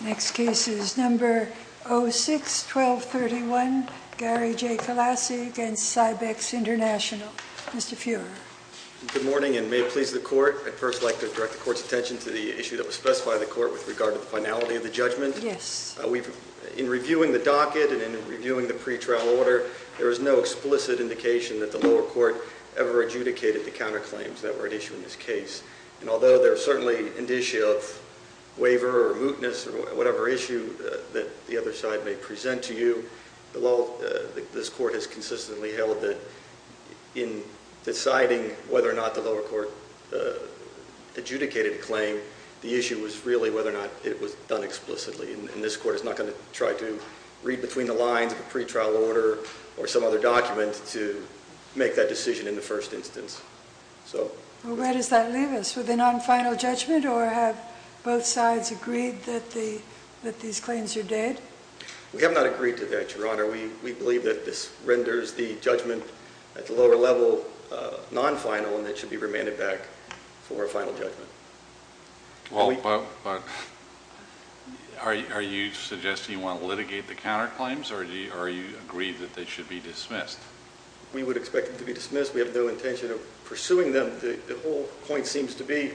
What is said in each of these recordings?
Next case is number 06-1231, Gary J. Kolasi against Cybex International. Mr. Fuhrer. Good morning, and may it please the court, I'd first like to direct the court's attention to the issue that was specified in the court with regard to the finality of the judgment. In reviewing the docket and in reviewing the pretrial order, there is no explicit indication that the lower court ever adjudicated the counterclaims that were at issue in this case. Although there are certainly indicia of waiver or mootness or whatever issue that the other side may present to you, the law, this court has consistently held that in deciding whether or not the lower court adjudicated the claim, the issue was really whether or not it was done explicitly. And this court is not going to try to read between the lines of a pretrial order or some other document to make that decision in the first instance. Well, where does that leave us, with a non-final judgment or have both sides agreed that these claims are dead? We have not agreed to that, Your Honor. We believe that this renders the judgment at the lower level non-final and it should be remanded back for a final judgment. Well, but are you suggesting you want to litigate the counterclaims or do you agree that they should be dismissed? We would expect them to be dismissed. We have no intention of pursuing them. The whole point seems to be,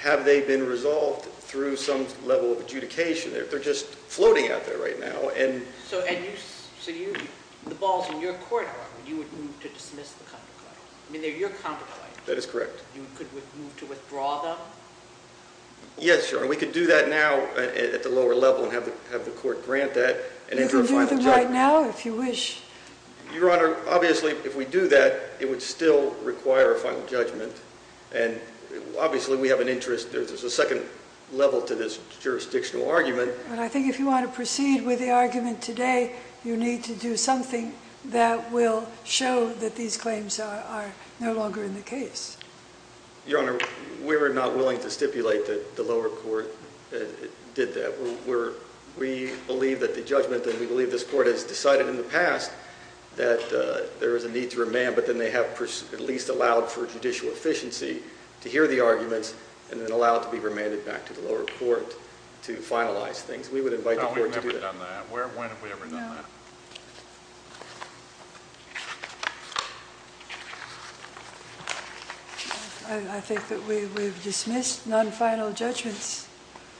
have they been resolved through some level of adjudication? They're just floating out there right now. So the ball's in your court, Your Honor, that you would move to dismiss the counterclaims? I mean, they're your counterclaims. That is correct. You could move to withdraw them? Yes, Your Honor. We could do that now at the lower level and have the court grant that and enter a final judgment. You can do that right now if you wish. Your Honor, obviously, if we do that, it would still require a final judgment and obviously we have an interest. There's a second level to this jurisdictional argument. I think if you want to proceed with the argument today, you need to do something that will show that these claims are no longer in the case. Your Honor, we were not willing to stipulate that the lower court did that. We believe that the judgment and we believe this court has decided in the past that there is a need to remand, but then they have at least allowed for judicial efficiency to hear the arguments and then allow it to be remanded back to the lower court to finalize things. We would invite the court to do that. No, we've never done that. When have we ever done that? No. I think that we've dismissed non-final judgments.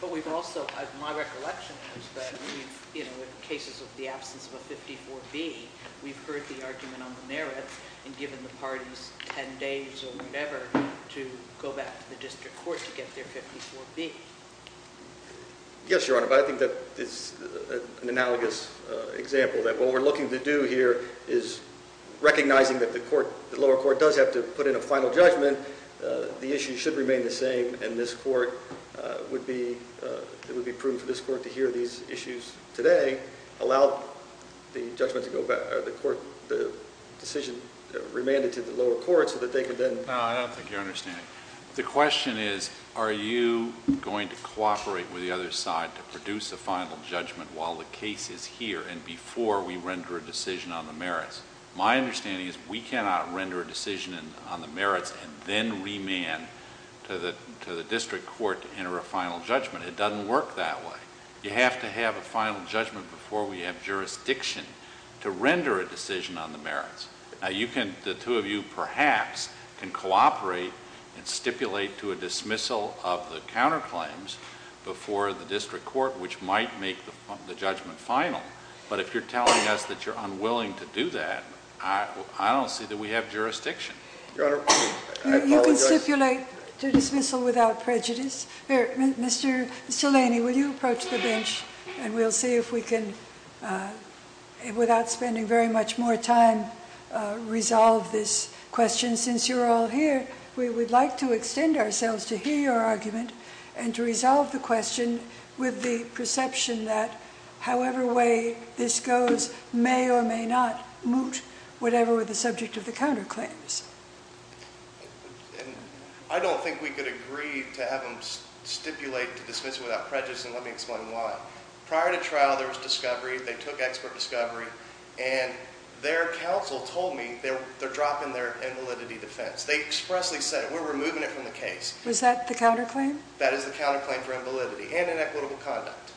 But we've also, my recollection is that in cases of the absence of a 54B, we've heard the argument on the merits and given the parties 10 days or whatever to go back to the district court to get their 54B. Yes, Your Honor, but I think that it's an analogous example that what we're looking to do here is recognizing that the lower court does have to put in a final judgment. The issue should remain the same and this court would be, it would be prudent for this court to hear these issues today, allow the judgment to go back, or the court, the decision remanded to the lower court so that they could then. No, I don't think you're understanding. The question is, are you going to cooperate with the other side to produce a final judgment while the case is here and before we render a decision on the merits? My understanding is we cannot render a decision on the merits and then remand to the district court to enter a final judgment. It doesn't work that way. You have to have a final judgment before we have jurisdiction to render a decision on the merits. Now, you can, the two of you, perhaps, can cooperate and stipulate to a dismissal of the counterclaims before the district court, which might make the judgment final. But if you're telling us that you're unwilling to do that, I don't see that we have jurisdiction. Your Honor, I apologize. You can stipulate to dismissal without prejudice. Mr. Delaney, will you approach the bench and we'll see if we can, without spending very much more time, resolve this question. Since you're all here, we would like to extend ourselves to hear your argument and to resolve the question with the perception that however way this goes may or may not moot whatever were the subject of the counterclaims. I don't think we could agree to have them stipulate to dismiss without prejudice and let me explain why. Prior to trial, there was discovery. They took expert discovery and their counsel told me they're dropping their invalidity defense. They expressly said, we're removing it from the case. Was that the counterclaim? That is the counterclaim for invalidity and inequitable conduct.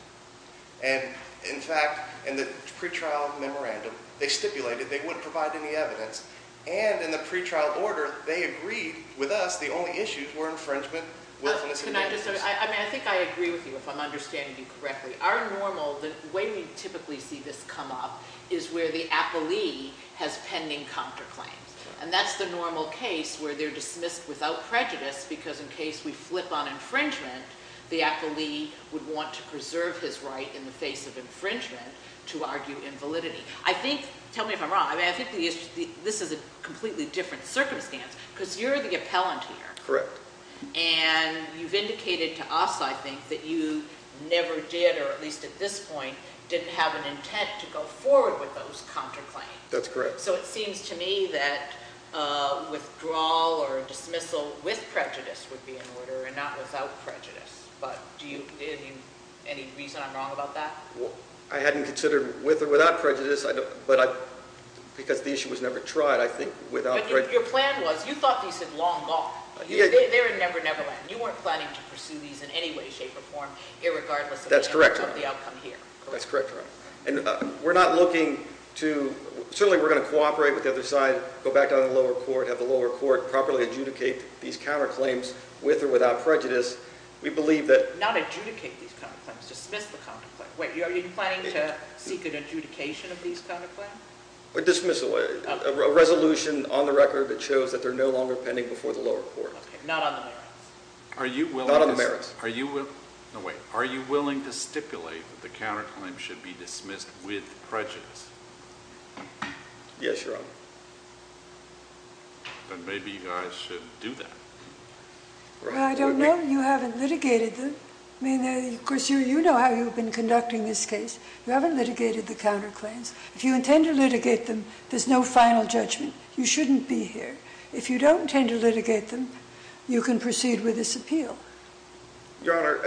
In fact, in the pre-trial memorandum, they stipulated they wouldn't provide any evidence and in the pre-trial order, they agreed with us the only issues were infringement. I think I agree with you if I'm understanding you correctly. Our normal, the way we typically see this come up is where the appellee has pending counterclaims and that's the normal case where they're dismissed without prejudice because in case we flip on infringement, the appellee would want to preserve his right in the face of infringement to argue invalidity. I think, tell me if I'm wrong, I think this is a completely different circumstance because you're the appellant here. Correct. And you've indicated to us, I think, that you never did or at least at this point didn't have an intent to go forward with those counterclaims. That's correct. So it seems to me that withdrawal or dismissal with prejudice would be in order and not without prejudice. But do you, any reason I'm wrong about that? I hadn't considered with or without prejudice, but because the issue was never tried, I think without prejudice- But your plan was, you thought these had long gone. They were never, neverland. You weren't planning to pursue these in any way, shape, or form, irregardless of the outcome here. That's correct, Your Honor. And we're not looking to, certainly we're going to cooperate with the other side, go back down to the lower court, have the lower court properly adjudicate these counterclaims with or without prejudice. We believe that- Not adjudicate these counterclaims. Dismiss the counterclaims. Wait, are you planning to seek an adjudication of these counterclaims? A dismissal. A resolution on the record that shows that they're no longer pending before the lower court. Okay. Not on the merits. Not on the merits. No, wait. Are you willing to stipulate that the counterclaims should be dismissed with prejudice? Yes, Your Honor. Then maybe you guys should do that. Well, I don't know. You haven't litigated them. I mean, of course, you know how you've been conducting this case. You haven't litigated the counterclaims. If you intend to litigate them, there's no final judgment. You shouldn't be here. If you don't intend to litigate them, you can proceed with this appeal. Your Honor,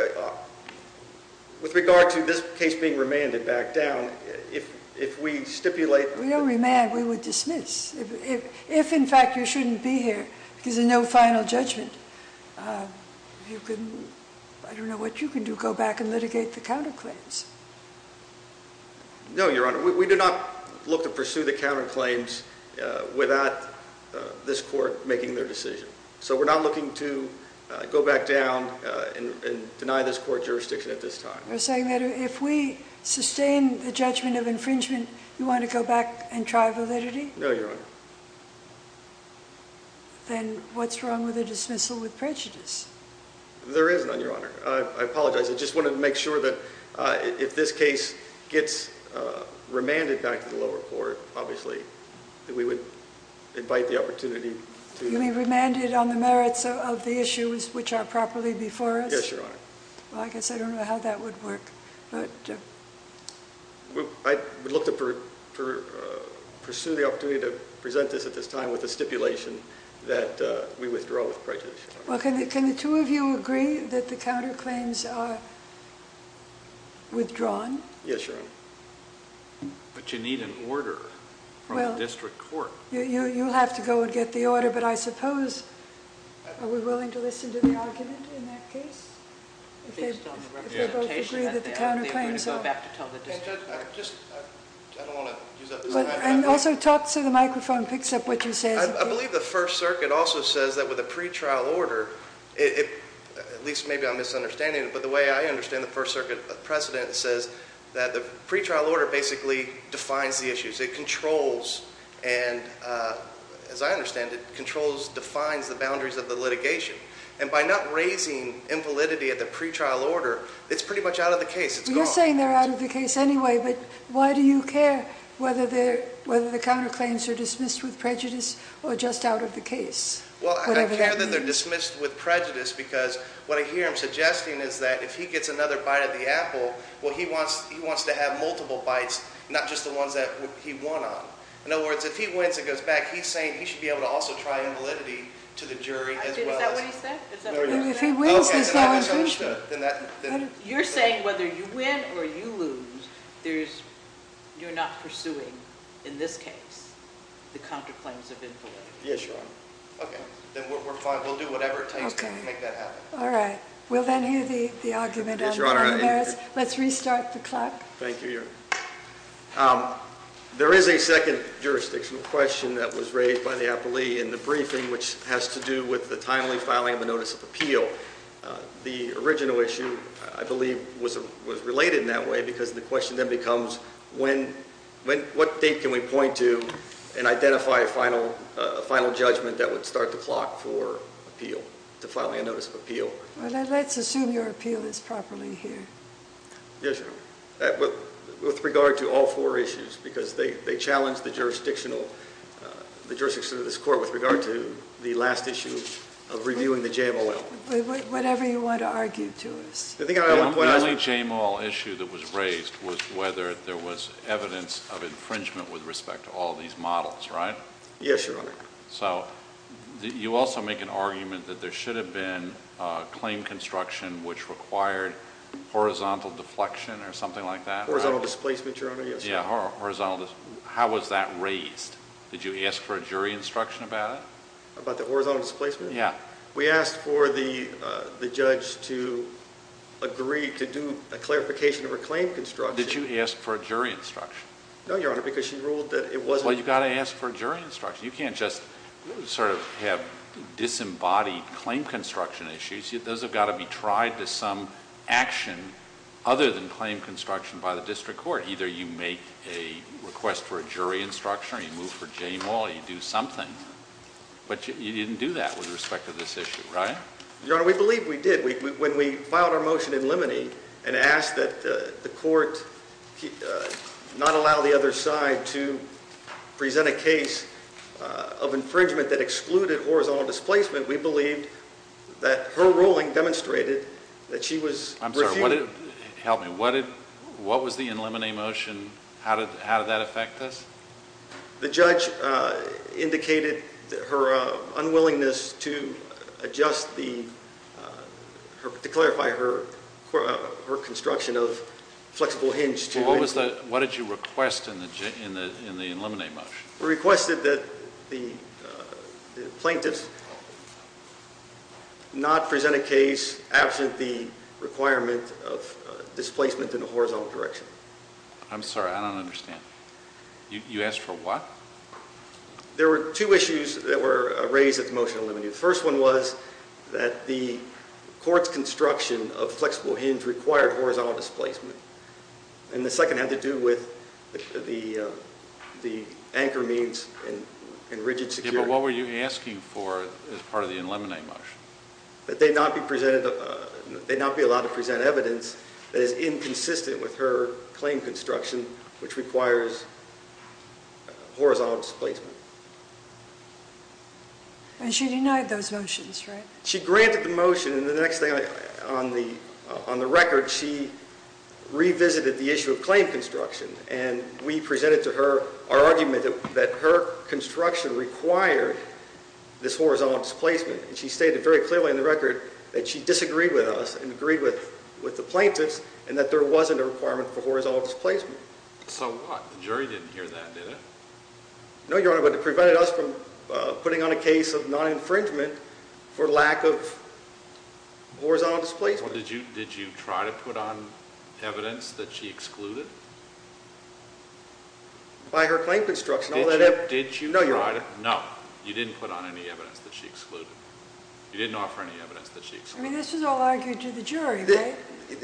with regard to this case being remanded back down, if we stipulate— We don't remand. We would dismiss. If, in fact, you shouldn't be here because there's no final judgment, you can—I don't know what you can do—go back and litigate the counterclaims. No, Your Honor. We do not look to pursue the counterclaims without this court making their decision. So we're not looking to go back down and deny this court jurisdiction at this time. You're saying that if we sustain the judgment of infringement, you want to go back and try validity? No, Your Honor. Then what's wrong with a dismissal with prejudice? There is none, Your Honor. I apologize. I just wanted to make sure that if this case gets remanded back to the lower court, obviously, that we would invite the opportunity to— You don't want it on the merits of the issues which are properly before us? Yes, Your Honor. Well, I guess I don't know how that would work. I would look to pursue the opportunity to present this at this time with the stipulation that we withdraw with prejudice, Your Honor. Well, can the two of you agree that the counterclaims are withdrawn? Yes, Your Honor. But you need an order from the district court. You'll have to go and get the order, but I suppose— Are we willing to listen to the argument in that case? If they both agree that the counterclaims are— Also, talk so the microphone picks up what you said. I believe the First Circuit also says that with a pretrial order, at least maybe I'm misunderstanding it, but the way I understand it, the First Circuit precedent says that the pretrial order basically defines the issues. It controls and, as I understand it, defines the boundaries of the litigation. And by not raising impolity at the pretrial order, it's pretty much out of the case. It's gone. You're saying they're out of the case anyway, but why do you care whether the counterclaims are dismissed with prejudice or just out of the case? Well, I care that they're dismissed with prejudice because what I hear him suggesting is that if he gets another bite of the apple, well, he wants to have multiple bites, not just the ones that he won on. In other words, if he wins, it goes back. He's saying he should be able to also try invalidity to the jury as well as— Is that what he said? If he wins, there's no invalidity. You're saying whether you win or you lose, you're not pursuing, in this case, the counterclaims of invalidity. Yes, Your Honor. Okay. Then we'll do whatever it takes to make that happen. All right. We'll then hear the argument on the merits. Let's restart the clock. Thank you, Your Honor. There is a second jurisdictional question that was raised by the appellee in the briefing which has to do with the timely filing of a notice of appeal. The original issue, I believe, was related in that way because the question then becomes, what date can we point to and identify a final judgment that would start the clock for appeal, to filing a notice of appeal? Let's assume your appeal is properly here. Yes, Your Honor. With regard to all four issues, because they challenged the jurisdiction of this Court with regard to the last issue of reviewing the JMOL. Whatever you want to argue to us. The only JMOL issue that was raised was whether there was evidence of infringement with respect to all these models, right? Yes, Your Honor. You also make an argument that there should have been a claim construction which required horizontal deflection or something like that, right? Horizontal displacement, Your Honor, yes. How was that raised? Did you ask for a jury instruction about it? About the horizontal displacement? Yeah. We asked for the judge to agree to do a clarification of her claim construction. Did you ask for a jury instruction? No, Your Honor, because she ruled that it wasn't... Well, you've got to ask for a jury instruction. You can't just sort of have disembodied claim construction issues. Those have got to be tried to some action other than claim construction by the District Court. Either you make a request for a jury instruction or you move for JMOL or you do something. But you didn't do that with respect to this issue, right? Your Honor, we believe we did. When we filed our motion in limine and asked that the Court not allow the other side to present a case of infringement that excluded horizontal displacement, we believed that her ruling demonstrated that she was... I'm sorry. Help me. What was the in limine motion? How did that affect this? The judge indicated her unwillingness to adjust the... to clarify her construction of flexible hinge. What did you request in the in limine motion? We requested that the plaintiffs not present a case absent the requirement of displacement in a horizontal direction. I'm sorry. I don't understand. You asked for what? There were two issues that were raised at the motion in limine. The first one was that the Court's construction of flexible hinge required horizontal displacement. And the second had to do with the anchor means and rigid security. Yeah, but what were you asking for as part of the in limine motion? That they not be presented... they not be allowed to present evidence that is inconsistent with her claim construction, which requires horizontal displacement. And she denied those motions, right? She granted the motion. And the next thing, on the record, she revisited the issue of claim construction. And we presented to her our argument that her construction required this horizontal displacement. And she stated very clearly in the record that she disagreed with us and agreed with the plaintiffs and that there wasn't a requirement for horizontal displacement. So what? The jury didn't hear that, did it? No, Your Honor, but it prevented us from putting on a case of non-infringement for lack of horizontal displacement. Did you try to put on evidence that she excluded? By her claim construction. Did you? No, Your Honor. No, you didn't put on any evidence that she excluded. You didn't offer any evidence that she excluded. I mean, this was all argued to the jury, right?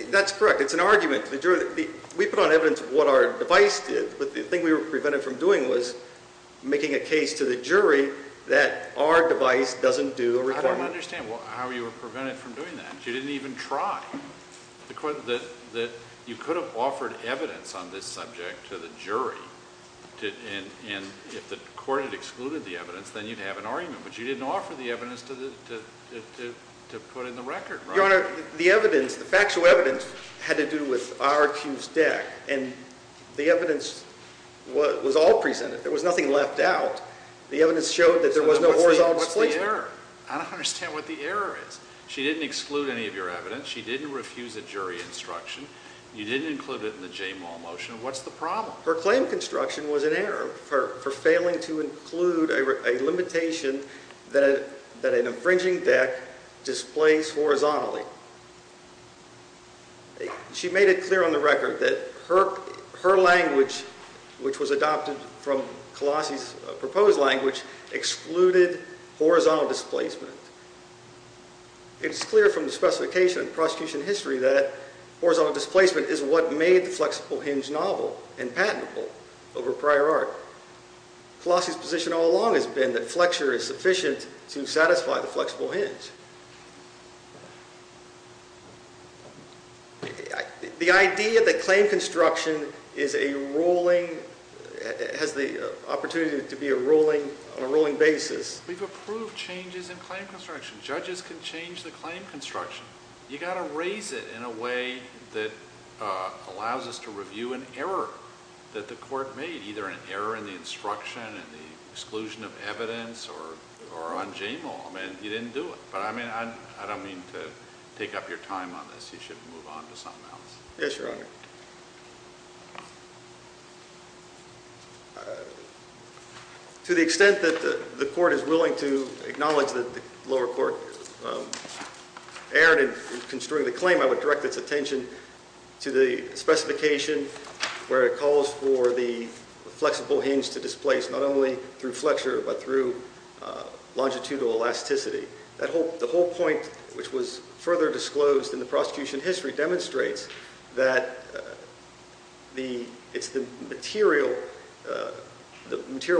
That's correct. It's an argument to the jury. We put on evidence of what our device did, but the thing we were prevented from doing was making a case to the jury that our device doesn't do a requirement. I don't understand how you were prevented from doing that. She didn't even try. You could have offered evidence on this subject to the jury, and if the court had excluded the evidence, then you'd have an argument, but you didn't offer the evidence to put in the record, right? Your Honor, the factual evidence had to do with our accused deck, and the evidence was all presented. There was nothing left out. The evidence showed that there was no horizontal displacement. What's the error? I don't understand what the error is. She didn't exclude any of your evidence. She didn't refuse a jury instruction. You didn't include it in the Jamal motion. What's the problem? Her claim of construction was an error for failing to include a limitation that an infringing deck displays horizontally. She made it clear on the record that her language, which was adopted from Colossi's proposed language, excluded horizontal displacement. It's clear from the specification in prosecution history that horizontal displacement is what made the flexible hinge novel and patentable over prior art. Colossi's position all along has been that flexure is sufficient to satisfy the flexible hinge. The idea that claim construction is a ruling, has the opportunity to be a ruling on a ruling basis. We've approved changes in claim construction. Judges can change the claim construction. You've got to raise it in a way that allows us to review an error that the court made, either an error in the instruction and the exclusion of evidence or on Jamal. You didn't do it, but I don't mean to take up your time on this. You should move on to something else. Yes, Your Honor. To the extent that the court is willing to acknowledge that the lower court erred in construing the claim, I would direct its attention to the specification where it calls for the flexible hinge to displace, not only through flexure but through longitudinal elasticity. The whole point, which was further disclosed in the prosecution history, demonstrates that it's the material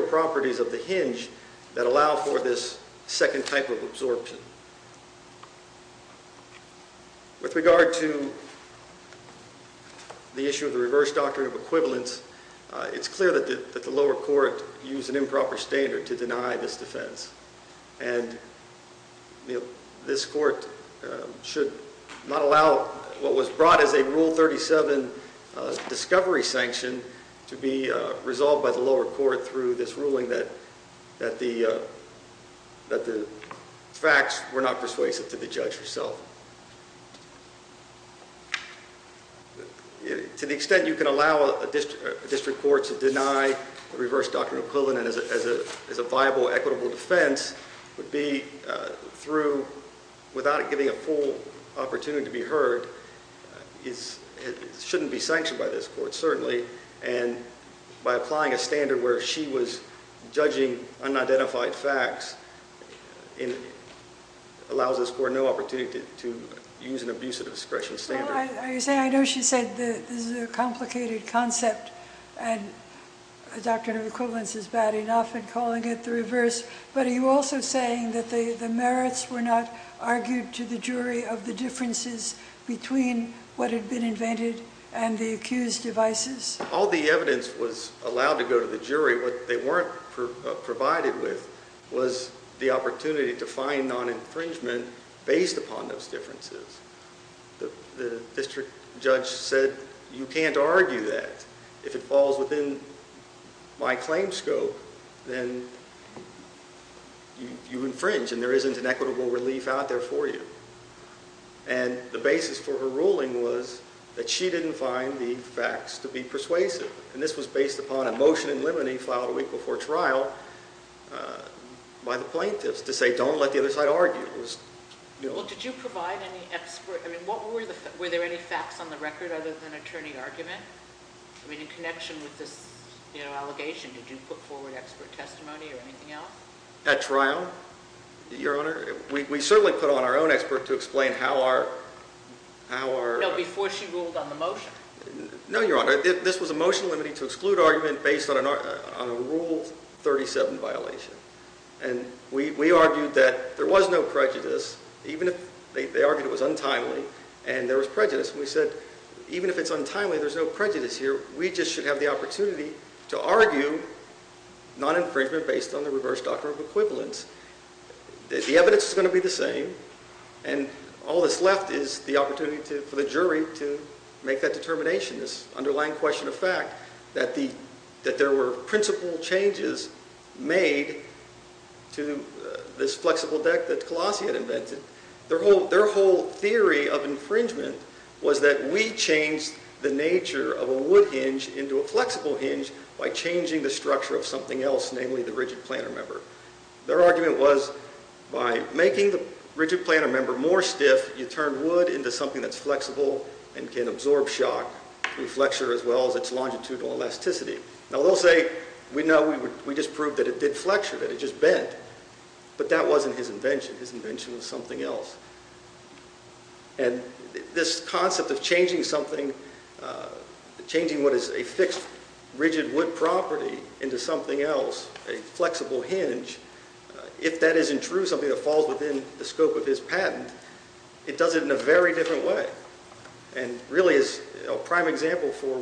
properties of the hinge that allow for this second type of absorption. With regard to the issue of the reverse doctrine of equivalence, it's clear that the lower court used an improper standard to deny this defense. This court should not allow what was brought as a Rule 37 discovery sanction to be resolved by the lower court through this ruling that the facts were not persuasive to the judge herself. To the extent you can allow a district court to deny the reverse doctrine of equivalence as a viable, equitable defense would be through, without it giving a full opportunity to be heard, it shouldn't be sanctioned by this court, certainly, and by applying a standard where she was judging unidentified facts allows this court no opportunity to use an abusive discretion standard. I know she said this is a complicated concept and a doctrine of equivalence is bad enough in calling it the reverse, but are you also saying that the merits were not argued to the jury of the differences between what had been invented and the accused devices? All the evidence was allowed to go to the jury. What they weren't provided with was the opportunity to find non-infringement based upon those differences. The district judge said you can't argue that. If it falls within my claim scope, then you infringe and there isn't an equitable relief out there for you. And the basis for her ruling was that she didn't find the facts to be persuasive, and this was based upon a motion in limine filed a week before trial by the plaintiffs to say don't let the other side argue. Well, did you provide any expert? I mean, were there any facts on the record other than attorney argument? I mean, in connection with this allegation, did you put forward expert testimony or anything else? At trial, Your Honor, we certainly put on our own expert to explain how our... No, before she ruled on the motion. No, Your Honor. This was a motion limiting to exclude argument based on a Rule 37 violation. And we argued that there was no prejudice even if they argued it was untimely and there was prejudice. And we said even if it's untimely, there's no prejudice here. We just should have the opportunity to argue non-infringement based on the reverse doctrine of equivalence. The evidence is going to be the same, and all that's left is the opportunity for the jury to make that determination, this underlying question of fact, that there were principle changes made to this flexible deck that Colossi had invented. Their whole theory of infringement was that we changed the nature of a wood hinge into a flexible hinge by changing the structure of something else, namely the rigid planar member. Their argument was by making the rigid planar member more stiff, you turn wood into something that's flexible and can absorb shock. We flexure as well as its longitudinal elasticity. Now they'll say we just proved that it did flexure, that it just bent. But that wasn't his invention. His invention was something else. And this concept of changing something, changing what is a fixed rigid wood property into something else, a flexible hinge, if that isn't true, something that falls within the scope of his patent, it does it in a very different way and really is a prime example for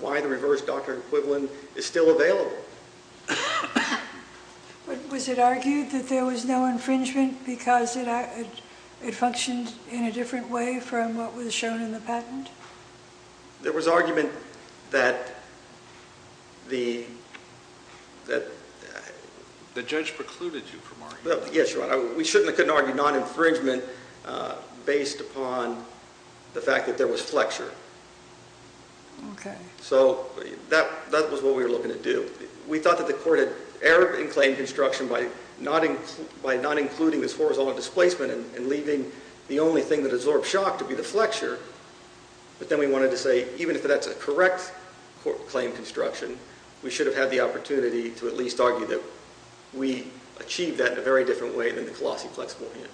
why the reverse doctrine equivalent is still available. Was it argued that there was no infringement because it functioned in a different way from what was shown in the patent? There was argument that the... The judge precluded you from arguing that. Yes, Your Honor. We couldn't argue non-infringement based upon the fact that there was flexure. Okay. So that was what we were looking to do. We thought that the court had erred in claim construction by not including this horizontal displacement and leaving the only thing that absorbed shock to be the flexure. But then we wanted to say even if that's a correct claim construction, we should have had the opportunity to at least argue that we achieved that in a very different way than the Colossi flexible hinge.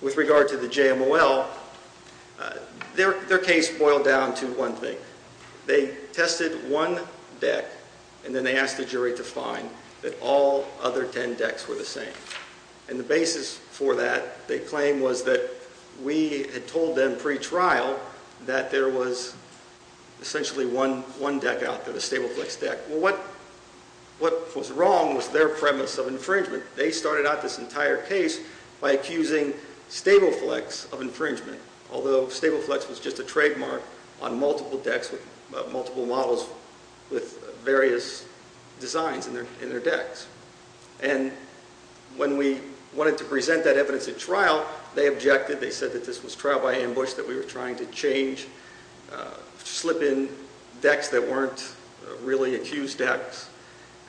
With regard to the JMOL, their case boiled down to one thing. They tested one deck and then they asked the jury to find that all other ten decks were the same. And the basis for that, they claimed, was that we had told them pre-trial that there was essentially one deck out there, the stable flex deck. Well, what was wrong was their premise of infringement. They started out this entire case by accusing stable flex of infringement, although stable flex was just a trademark on multiple decks, multiple models with various designs in their decks. And when we wanted to present that evidence at trial, they objected. They said that this was trial by ambush, that we were trying to change, slip in decks that weren't really accused decks,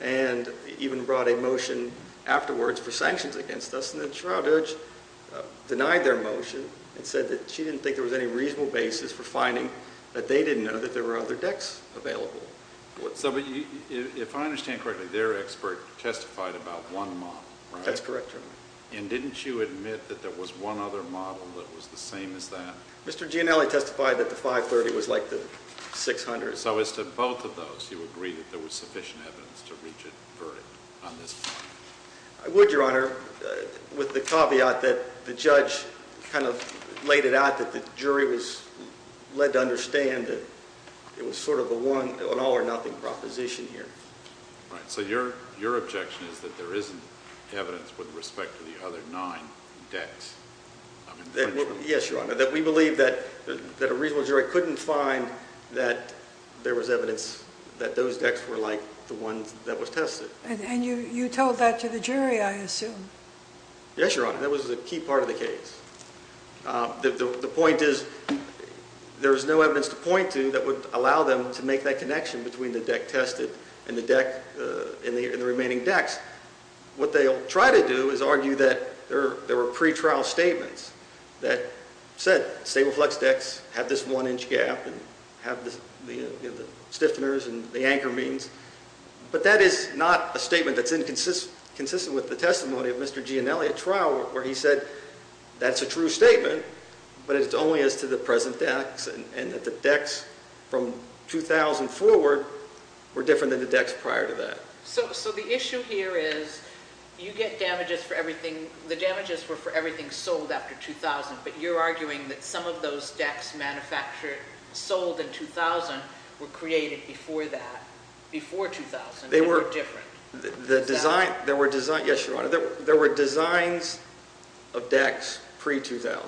and even brought a motion afterwards for sanctions against us. And the trial judge denied their motion and said that she didn't think there was any reasonable basis for finding that they didn't know that there were other decks available. So if I understand correctly, their expert testified about one model, right? That's correct, Your Honor. And didn't you admit that there was one other model that was the same as that? Mr. Gianelli testified that the 530 was like the 600. So as to both of those, you agree that there was sufficient evidence to reach a verdict on this point? I would, Your Honor, with the caveat that the judge kind of laid it out that the jury was led to understand that it was sort of an all or nothing proposition here. Right. So your objection is that there isn't evidence with respect to the other nine decks? Yes, Your Honor, that we believe that a reasonable jury couldn't find that there was evidence that those decks were like the ones that was tested. And you told that to the jury, I assume? Yes, Your Honor. That was a key part of the case. The point is there is no evidence to point to that would allow them to make that connection between the deck tested and the remaining decks. What they'll try to do is argue that there were pre-trial statements that said stable flex decks have this one-inch gap and have the stiffeners and the anchor beams. But that is not a statement that's inconsistent with the testimony of Mr. Gianelli at trial where he said that's a true statement, but it's only as to the present decks and that the decks from 2000 forward were different than the decks prior to that. So the issue here is you get damages for everything, the damages were for everything sold after 2000, but you're arguing that some of those decks manufactured, sold in 2000 were created before that, before 2000. They were different. The design, there were designs, yes, Your Honor, there were designs of decks pre-2000.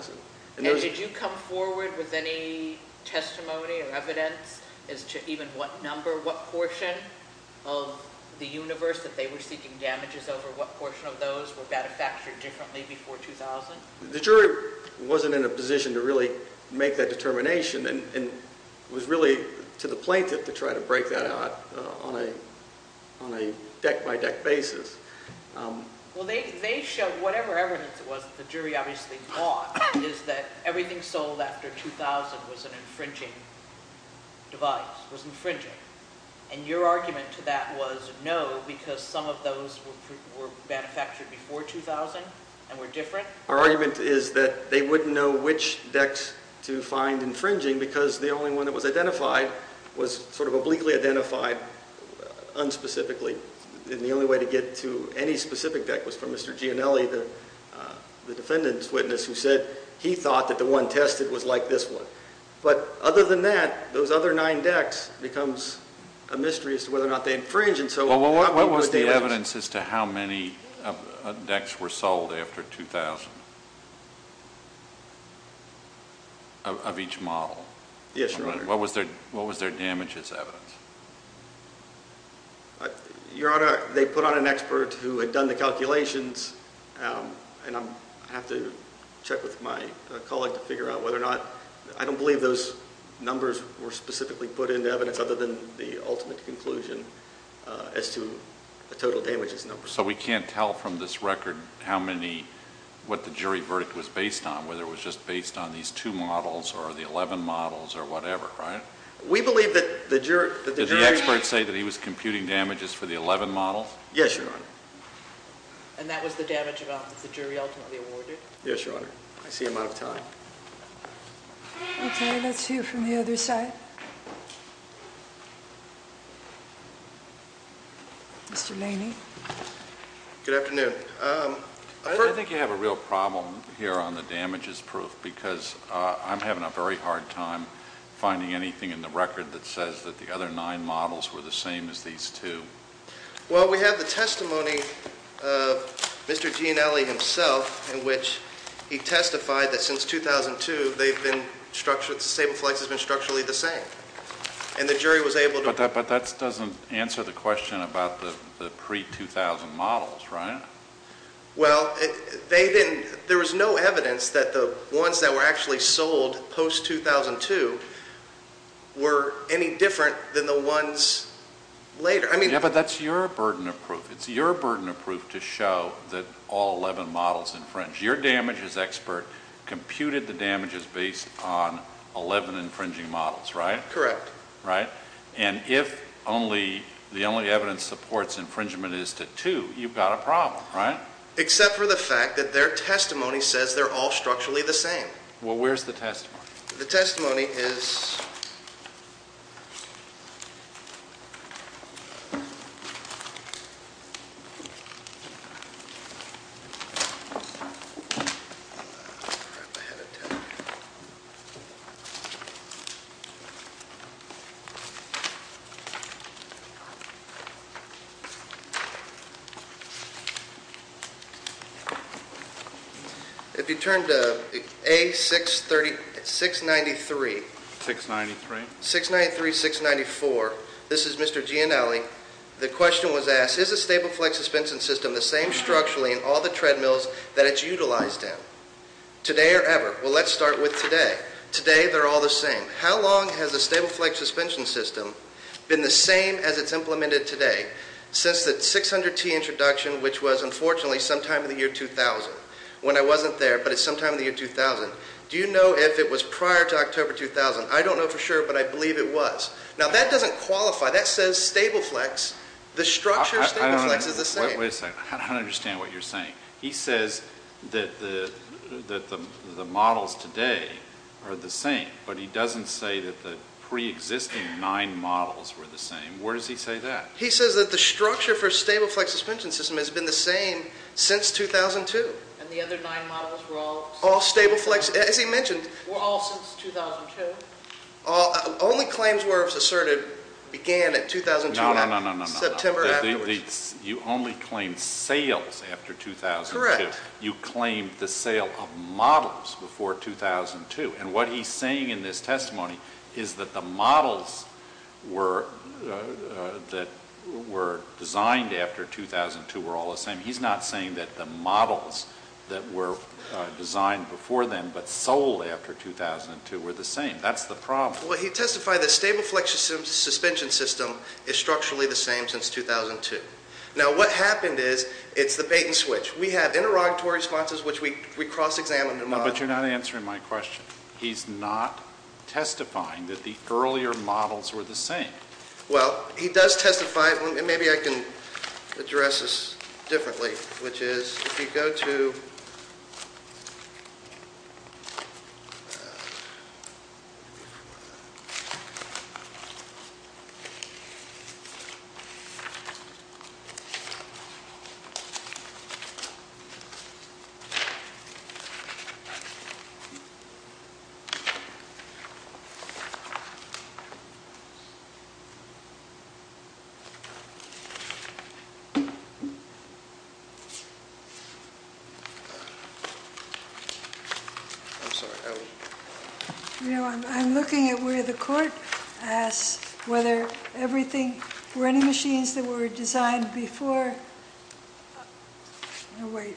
And did you come forward with any testimony or evidence as to even what number, what portion of the universe that they were seeking damages over, what portion of those were manufactured differently before 2000? The jury wasn't in a position to really make that determination and was really to the plaintiff to try to break that out on a deck-by-deck basis. Well, they showed whatever evidence it was that the jury obviously bought is that everything sold after 2000 was an infringing device, was infringing. And your argument to that was no, because some of those were manufactured before 2000 and were different? Our argument is that they wouldn't know which decks to find infringing because the only one that was identified was sort of obliquely identified, unspecifically, and the only way to get to any specific deck was from Mr. Gianelli, the defendant's witness, who said he thought that the one tested was like this one. But other than that, those other nine decks becomes a mystery as to whether or not they infringe. Well, what was the evidence as to how many decks were sold after 2000 of each model? Yes, Your Honor. What was their damage as evidence? Your Honor, they put on an expert who had done the calculations, and I have to check with my colleague to figure out whether or not. I don't believe those numbers were specifically put into evidence other than the ultimate conclusion as to the total damage as numbers. So we can't tell from this record how many, what the jury verdict was based on, whether it was just based on these two models or the 11 models or whatever, right? We believe that the jury... Did the expert say that he was computing damages for the 11 models? Yes, Your Honor. And that was the damage of evidence the jury ultimately awarded? Yes, Your Honor. I see him out of time. Okay, let's hear from the other side. Mr. Laney. Good afternoon. I think you have a real problem here on the damages proof because I'm having a very hard time finding anything in the record that says that the other nine models were the same as these two. Well, we have the testimony of Mr. Gianelli himself in which he testified that since 2002, the Sable Flex has been structurally the same. And the jury was able to... Yes, but that doesn't answer the question about the pre-2000 models, right? Well, there was no evidence that the ones that were actually sold post-2002 were any different than the ones later. Yes, but that's your burden of proof. It's your burden of proof to show that all 11 models infringed. Your damages expert computed the damages based on 11 infringing models, right? Correct. Right? And if the only evidence supports infringement is to two, you've got a problem, right? Except for the fact that their testimony says they're all structurally the same. Well, where's the testimony? The testimony is... 693. 693, 694. This is Mr. Gianelli. The question was asked, is the Sable Flex suspension system the same structurally in all the treadmills that it's utilized in, today or ever? Well, let's start with today. Today, they're all the same. How long has the Sable Flex suspension system been the same as it's implemented today since the 600T introduction, which was, unfortunately, sometime in the year 2000, when I wasn't there, but it's sometime in the year 2000. Do you know if it was prior to October 2000? I don't know for sure, but I believe it was. Now, that doesn't qualify. That says Sable Flex. The structure of Sable Flex is the same. Wait a second. I don't understand what you're saying. He says that the models today are the same, but he doesn't say that the preexisting nine models were the same. Where does he say that? He says that the structure for Sable Flex suspension system has been the same since 2002. And the other nine models were all... All Sable Flex, as he mentioned... Were all since 2002. Only claims were asserted began in 2002. No, no, no, no, no. September afterwards. You only claimed sales after 2002. Correct. You claimed the sale of models before 2002. And what he's saying in this testimony is that the models that were designed after 2002 were all the same. He's not saying that the models that were designed before then but sold after 2002 were the same. That's the problem. Well, he testified that Sable Flex suspension system is structurally the same since 2002. Now, what happened is it's the patent switch. We have interrogatory responses which we cross-examined and modeled. No, but you're not answering my question. He's not testifying that the earlier models were the same. Well, he does testify, and maybe I can address this differently, which is if you go to... I'm sorry. You know, I'm looking at where the court asks whether everything... Were any machines that were designed before... No, wait.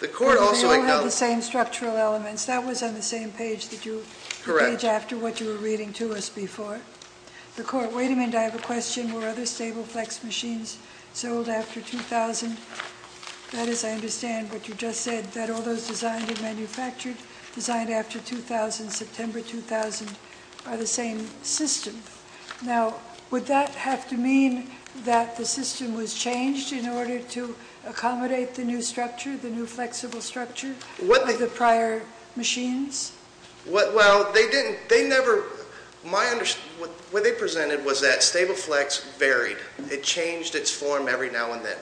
The court also acknowledged... They all had the same structural elements. That was on the same page that you... Correct. ...page after what you were reading to us before. The court... Wait a minute. I have a question. Were other Sable Flex machines sold after 2000? That is, I understand what you just said, that all those designed and manufactured, designed after 2000, September 2000, are the same system. Now, would that have to mean that the system was changed in order to accommodate the new structure, the new flexible structure of the prior machines? Well, they didn't. They never... What they presented was that Sable Flex varied. It changed its form every now and then.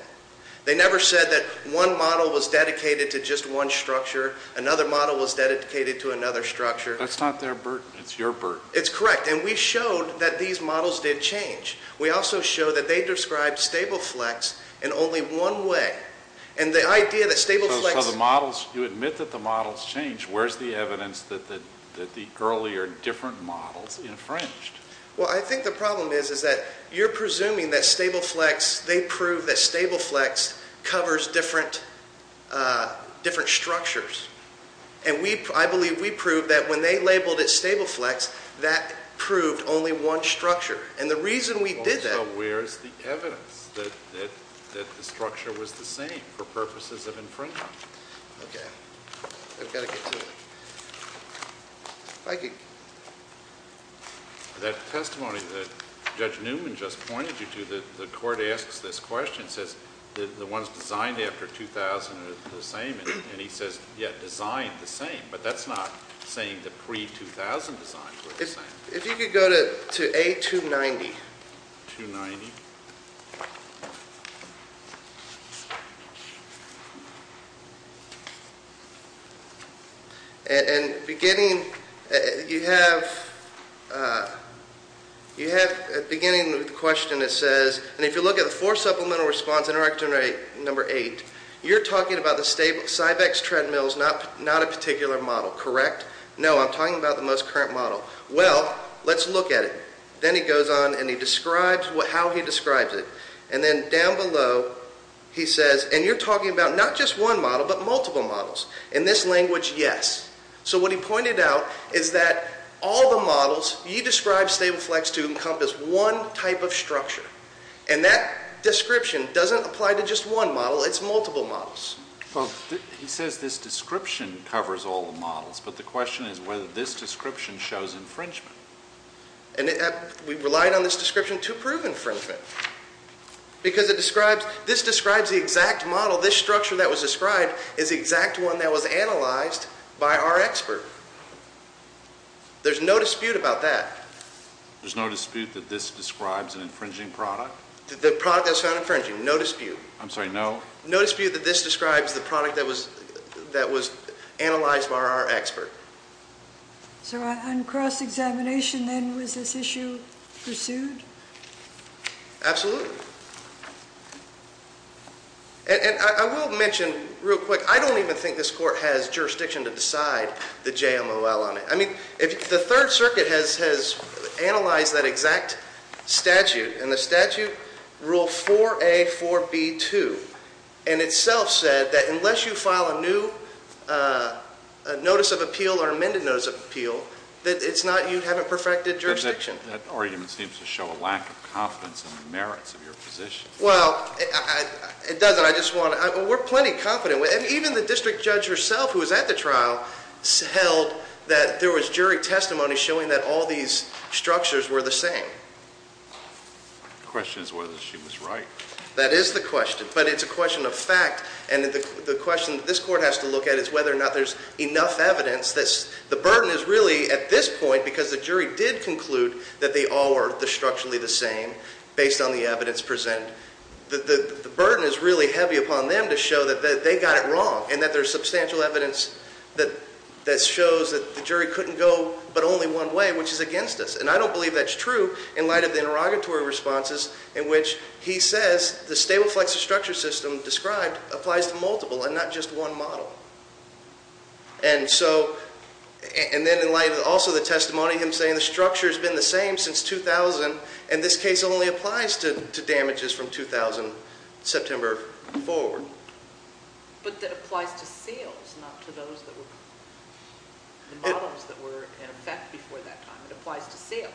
They never said that one model was dedicated to just one structure, another model was dedicated to another structure. That's not their burden. It's your burden. It's correct, and we showed that these models did change. We also showed that they described Sable Flex in only one way, and the idea that Sable Flex... If you admit that the models changed, where's the evidence that the earlier different models infringed? Well, I think the problem is that you're presuming that Sable Flex, they proved that Sable Flex covers different structures. And I believe we proved that when they labeled it Sable Flex, that proved only one structure. And the reason we did that... Okay. I've got to get to it. If I could... That testimony that Judge Newman just pointed you to, the court asks this question, says the ones designed after 2000 are the same, and he says, yeah, designed the same. But that's not saying the pre-2000 designs were the same. If you could go to A290. 290. And beginning... You have, at the beginning of the question, it says, and if you look at the four supplemental response interaction number eight, you're talking about the Cybex treadmills, not a particular model, correct? No, I'm talking about the most current model. Well, let's look at it. Then he goes on and he describes how he describes it. And then down below he says, and you're talking about not just one model but multiple models. In this language, yes. So what he pointed out is that all the models, you described Sable Flex to encompass one type of structure. And that description doesn't apply to just one model. It's multiple models. Well, he says this description covers all the models, but the question is whether this description shows infringement. And we relied on this description to prove infringement because this describes the exact model, this structure that was described, is the exact one that was analyzed by our expert. There's no dispute about that. There's no dispute that this describes an infringing product? The product that's found infringing, no dispute. I'm sorry, no? No dispute that this describes the product that was analyzed by our expert. So on cross-examination, then, was this issue pursued? Absolutely. And I will mention real quick, I don't even think this court has jurisdiction to decide the JMOL on it. I mean, the Third Circuit has analyzed that exact statute, and the statute rule 4A, 4B, 2, and itself said that unless you file a new notice of appeal or amended notice of appeal, that you haven't perfected jurisdiction. That argument seems to show a lack of confidence in the merits of your position. Well, it doesn't. We're plenty confident. Even the district judge herself who was at the trial held that there was jury testimony showing that all these structures were the same. The question is whether she was right. That is the question. But it's a question of fact, and the question that this court has to look at is whether or not there's enough evidence. The burden is really, at this point, because the jury did conclude that they all were structurally the same based on the evidence presented, the burden is really heavy upon them to show that they got it wrong and that there's substantial evidence that shows that the jury couldn't go but only one way, which is against us. And I don't believe that's true in light of the interrogatory responses in which he says the stable flexor structure system described applies to multiple and not just one model. And so, and then in light of also the testimony, him saying the structure's been the same since 2000, and this case only applies to damages from 2000, September forward. But that applies to seals, not to those that were, the models that were in effect before that time. It applies to seals.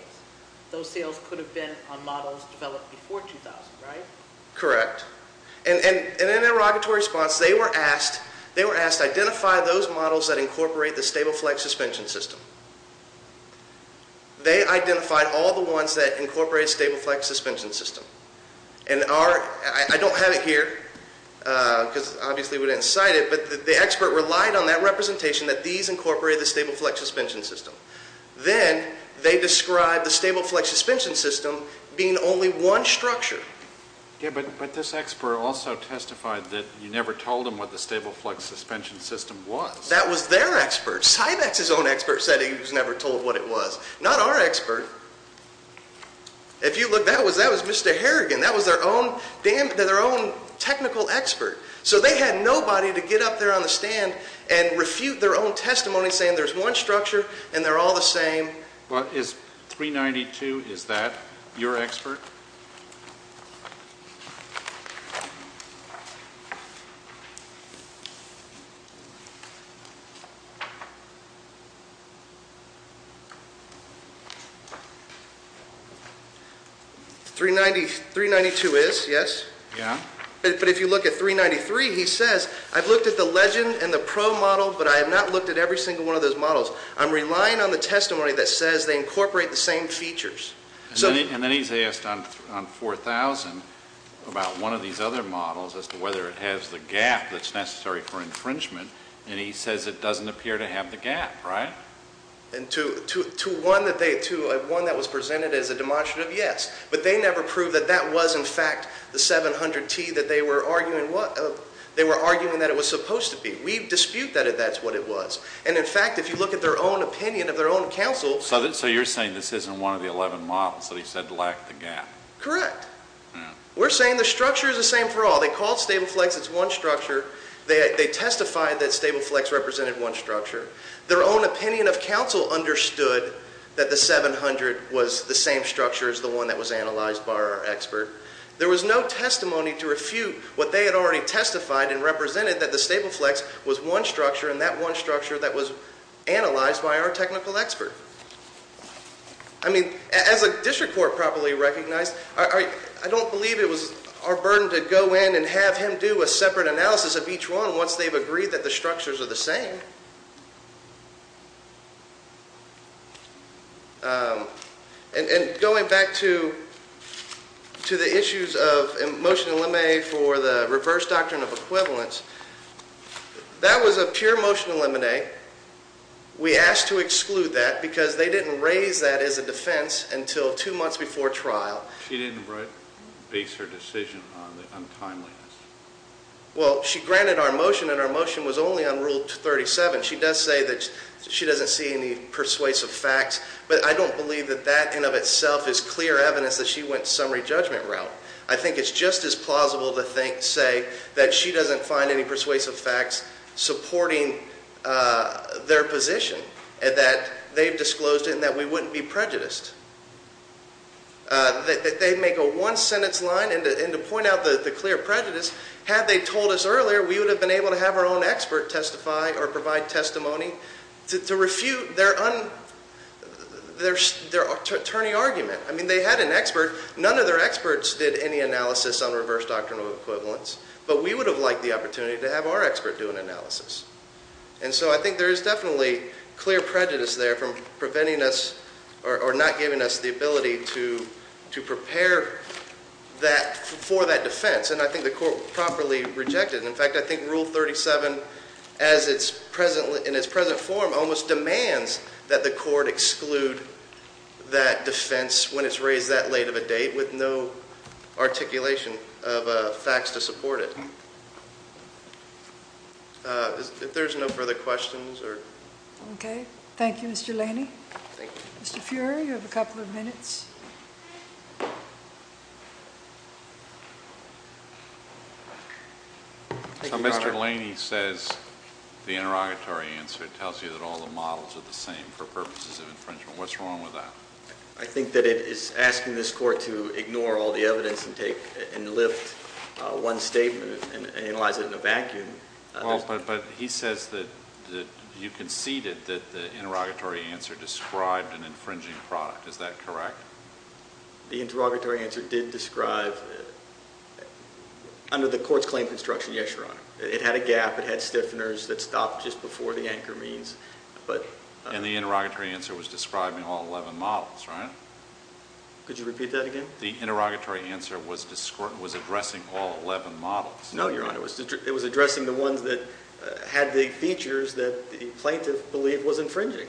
Those seals could have been on models developed before 2000, right? Correct. And in an interrogatory response, they were asked, they were asked to identify those models that incorporate the stable flexor suspension system. They identified all the ones that incorporated stable flexor suspension system. And our, I don't have it here because obviously we didn't cite it, but the expert relied on that representation that these incorporated the stable flexor suspension system. Then they described the stable flexor suspension system being only one structure. Yeah, but this expert also testified that you never told him what the stable flexor suspension system was. That was their expert. Cybex's own expert said he was never told what it was. Not our expert. If you look, that was Mr. Harrigan. That was their own technical expert. So they had nobody to get up there on the stand and refute their own testimony saying there's one structure and they're all the same. Well, is 392, is that your expert? 392 is, yes. Yeah. But if you look at 393, he says, I've looked at the legend and the pro model, but I have not looked at every single one of those models. I'm relying on the testimony that says they incorporate the same features. And then he's asked on 4000 about one of these other models as to whether it has the gap that's necessary for infringement, and he says it doesn't appear to have the gap, right? To one that was presented as a demonstrative, yes. But they never proved that that was, in fact, the 700T that they were arguing that it was supposed to be. We dispute that that's what it was. And, in fact, if you look at their own opinion of their own counsel. So you're saying this isn't one of the 11 models that he said lacked the gap? Correct. We're saying the structure is the same for all. They called StableFlex, it's one structure. They testified that StableFlex represented one structure. Their own opinion of counsel understood that the 700 was the same structure as the one that was analyzed by our expert. There was no testimony to refute what they had already testified and represented that the StableFlex was one structure, and that one structure that was analyzed by our technical expert. I mean, as a district court properly recognized, I don't believe it was our burden to go in and have him do a separate analysis of each one once they've agreed that the structures are the same. And going back to the issues of motion to eliminate for the reverse doctrine of equivalence, that was a pure motion to eliminate. We asked to exclude that because they didn't raise that as a defense until two months before trial. She didn't base her decision on the untimeliness. Well, she granted our motion, and our motion was only on Rule 37. She does say that she doesn't see any persuasive facts, but I don't believe that that in and of itself is clear evidence that she went summary judgment route. I think it's just as plausible to say that she doesn't find any persuasive facts supporting their position, that they've disclosed it and that we wouldn't be prejudiced. They make a one-sentence line, and to point out the clear prejudice, had they told us earlier, we would have been able to have our own expert testify or provide testimony to refute their attorney argument. I mean, they had an expert. None of their experts did any analysis on reverse doctrine of equivalence, but we would have liked the opportunity to have our expert do an analysis. And so I think there is definitely clear prejudice there from preventing us or not giving us the ability to prepare for that defense, and I think the court properly rejected it. In fact, I think Rule 37, in its present form, almost demands that the court exclude that defense when it's raised that late of a date with no articulation of facts to support it. If there's no further questions. Okay. Thank you, Mr. Laney. Thank you. Mr. Fuhrer, you have a couple of minutes. So Mr. Laney says the interrogatory answer tells you that all the models are the same for purposes of infringement. What's wrong with that? I think that it is asking this court to ignore all the evidence and lift one statement and analyze it in a vacuum. But he says that you conceded that the interrogatory answer described an infringing product. Is that correct? The interrogatory answer did describe, under the court's claim construction, yes, Your Honor. It had a gap. It had stiffeners that stopped just before the anchor means. And the interrogatory answer was describing all 11 models, right? Could you repeat that again? The interrogatory answer was addressing all 11 models. No, Your Honor. It was addressing the ones that had the features that the plaintiff believed was infringing.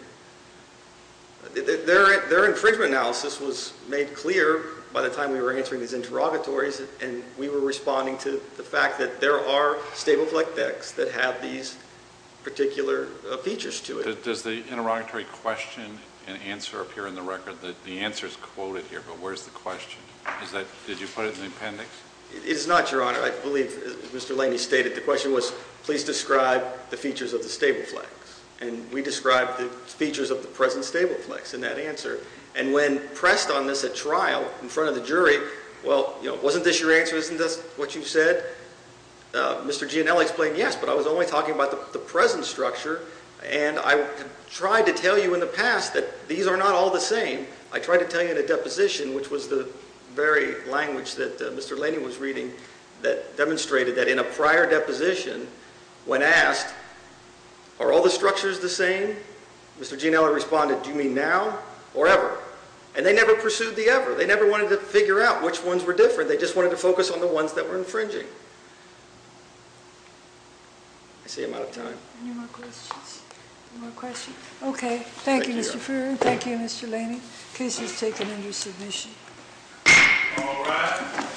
Their infringement analysis was made clear by the time we were answering these interrogatories, and we were responding to the fact that there are stable flex decks that have these particular features to it. Does the interrogatory question and answer appear in the record? The answer is quoted here, but where's the question? Did you put it in the appendix? It is not, Your Honor. I believe, as Mr. Laney stated, the question was, please describe the features of the stable flex, and we described the features of the present stable flex in that answer. And when pressed on this at trial in front of the jury, well, you know, wasn't this your answer? Isn't this what you said? Mr. Gianelli explained, yes, but I was only talking about the present structure, and I tried to tell you in the past that these are not all the same. I tried to tell you in a deposition, which was the very language that Mr. Laney was reading, that demonstrated that in a prior deposition, when asked, are all the structures the same, Mr. Gianelli responded, do you mean now or ever? And they never pursued the ever. They never wanted to figure out which ones were different. They just wanted to focus on the ones that were infringing. I see I'm out of time. Any more questions? Any more questions? Okay. Thank you, Mr. Freer. Thank you, Mr. Laney. The case is taken under submission. All right. The court is adjourned at 6 p.m. this afternoon.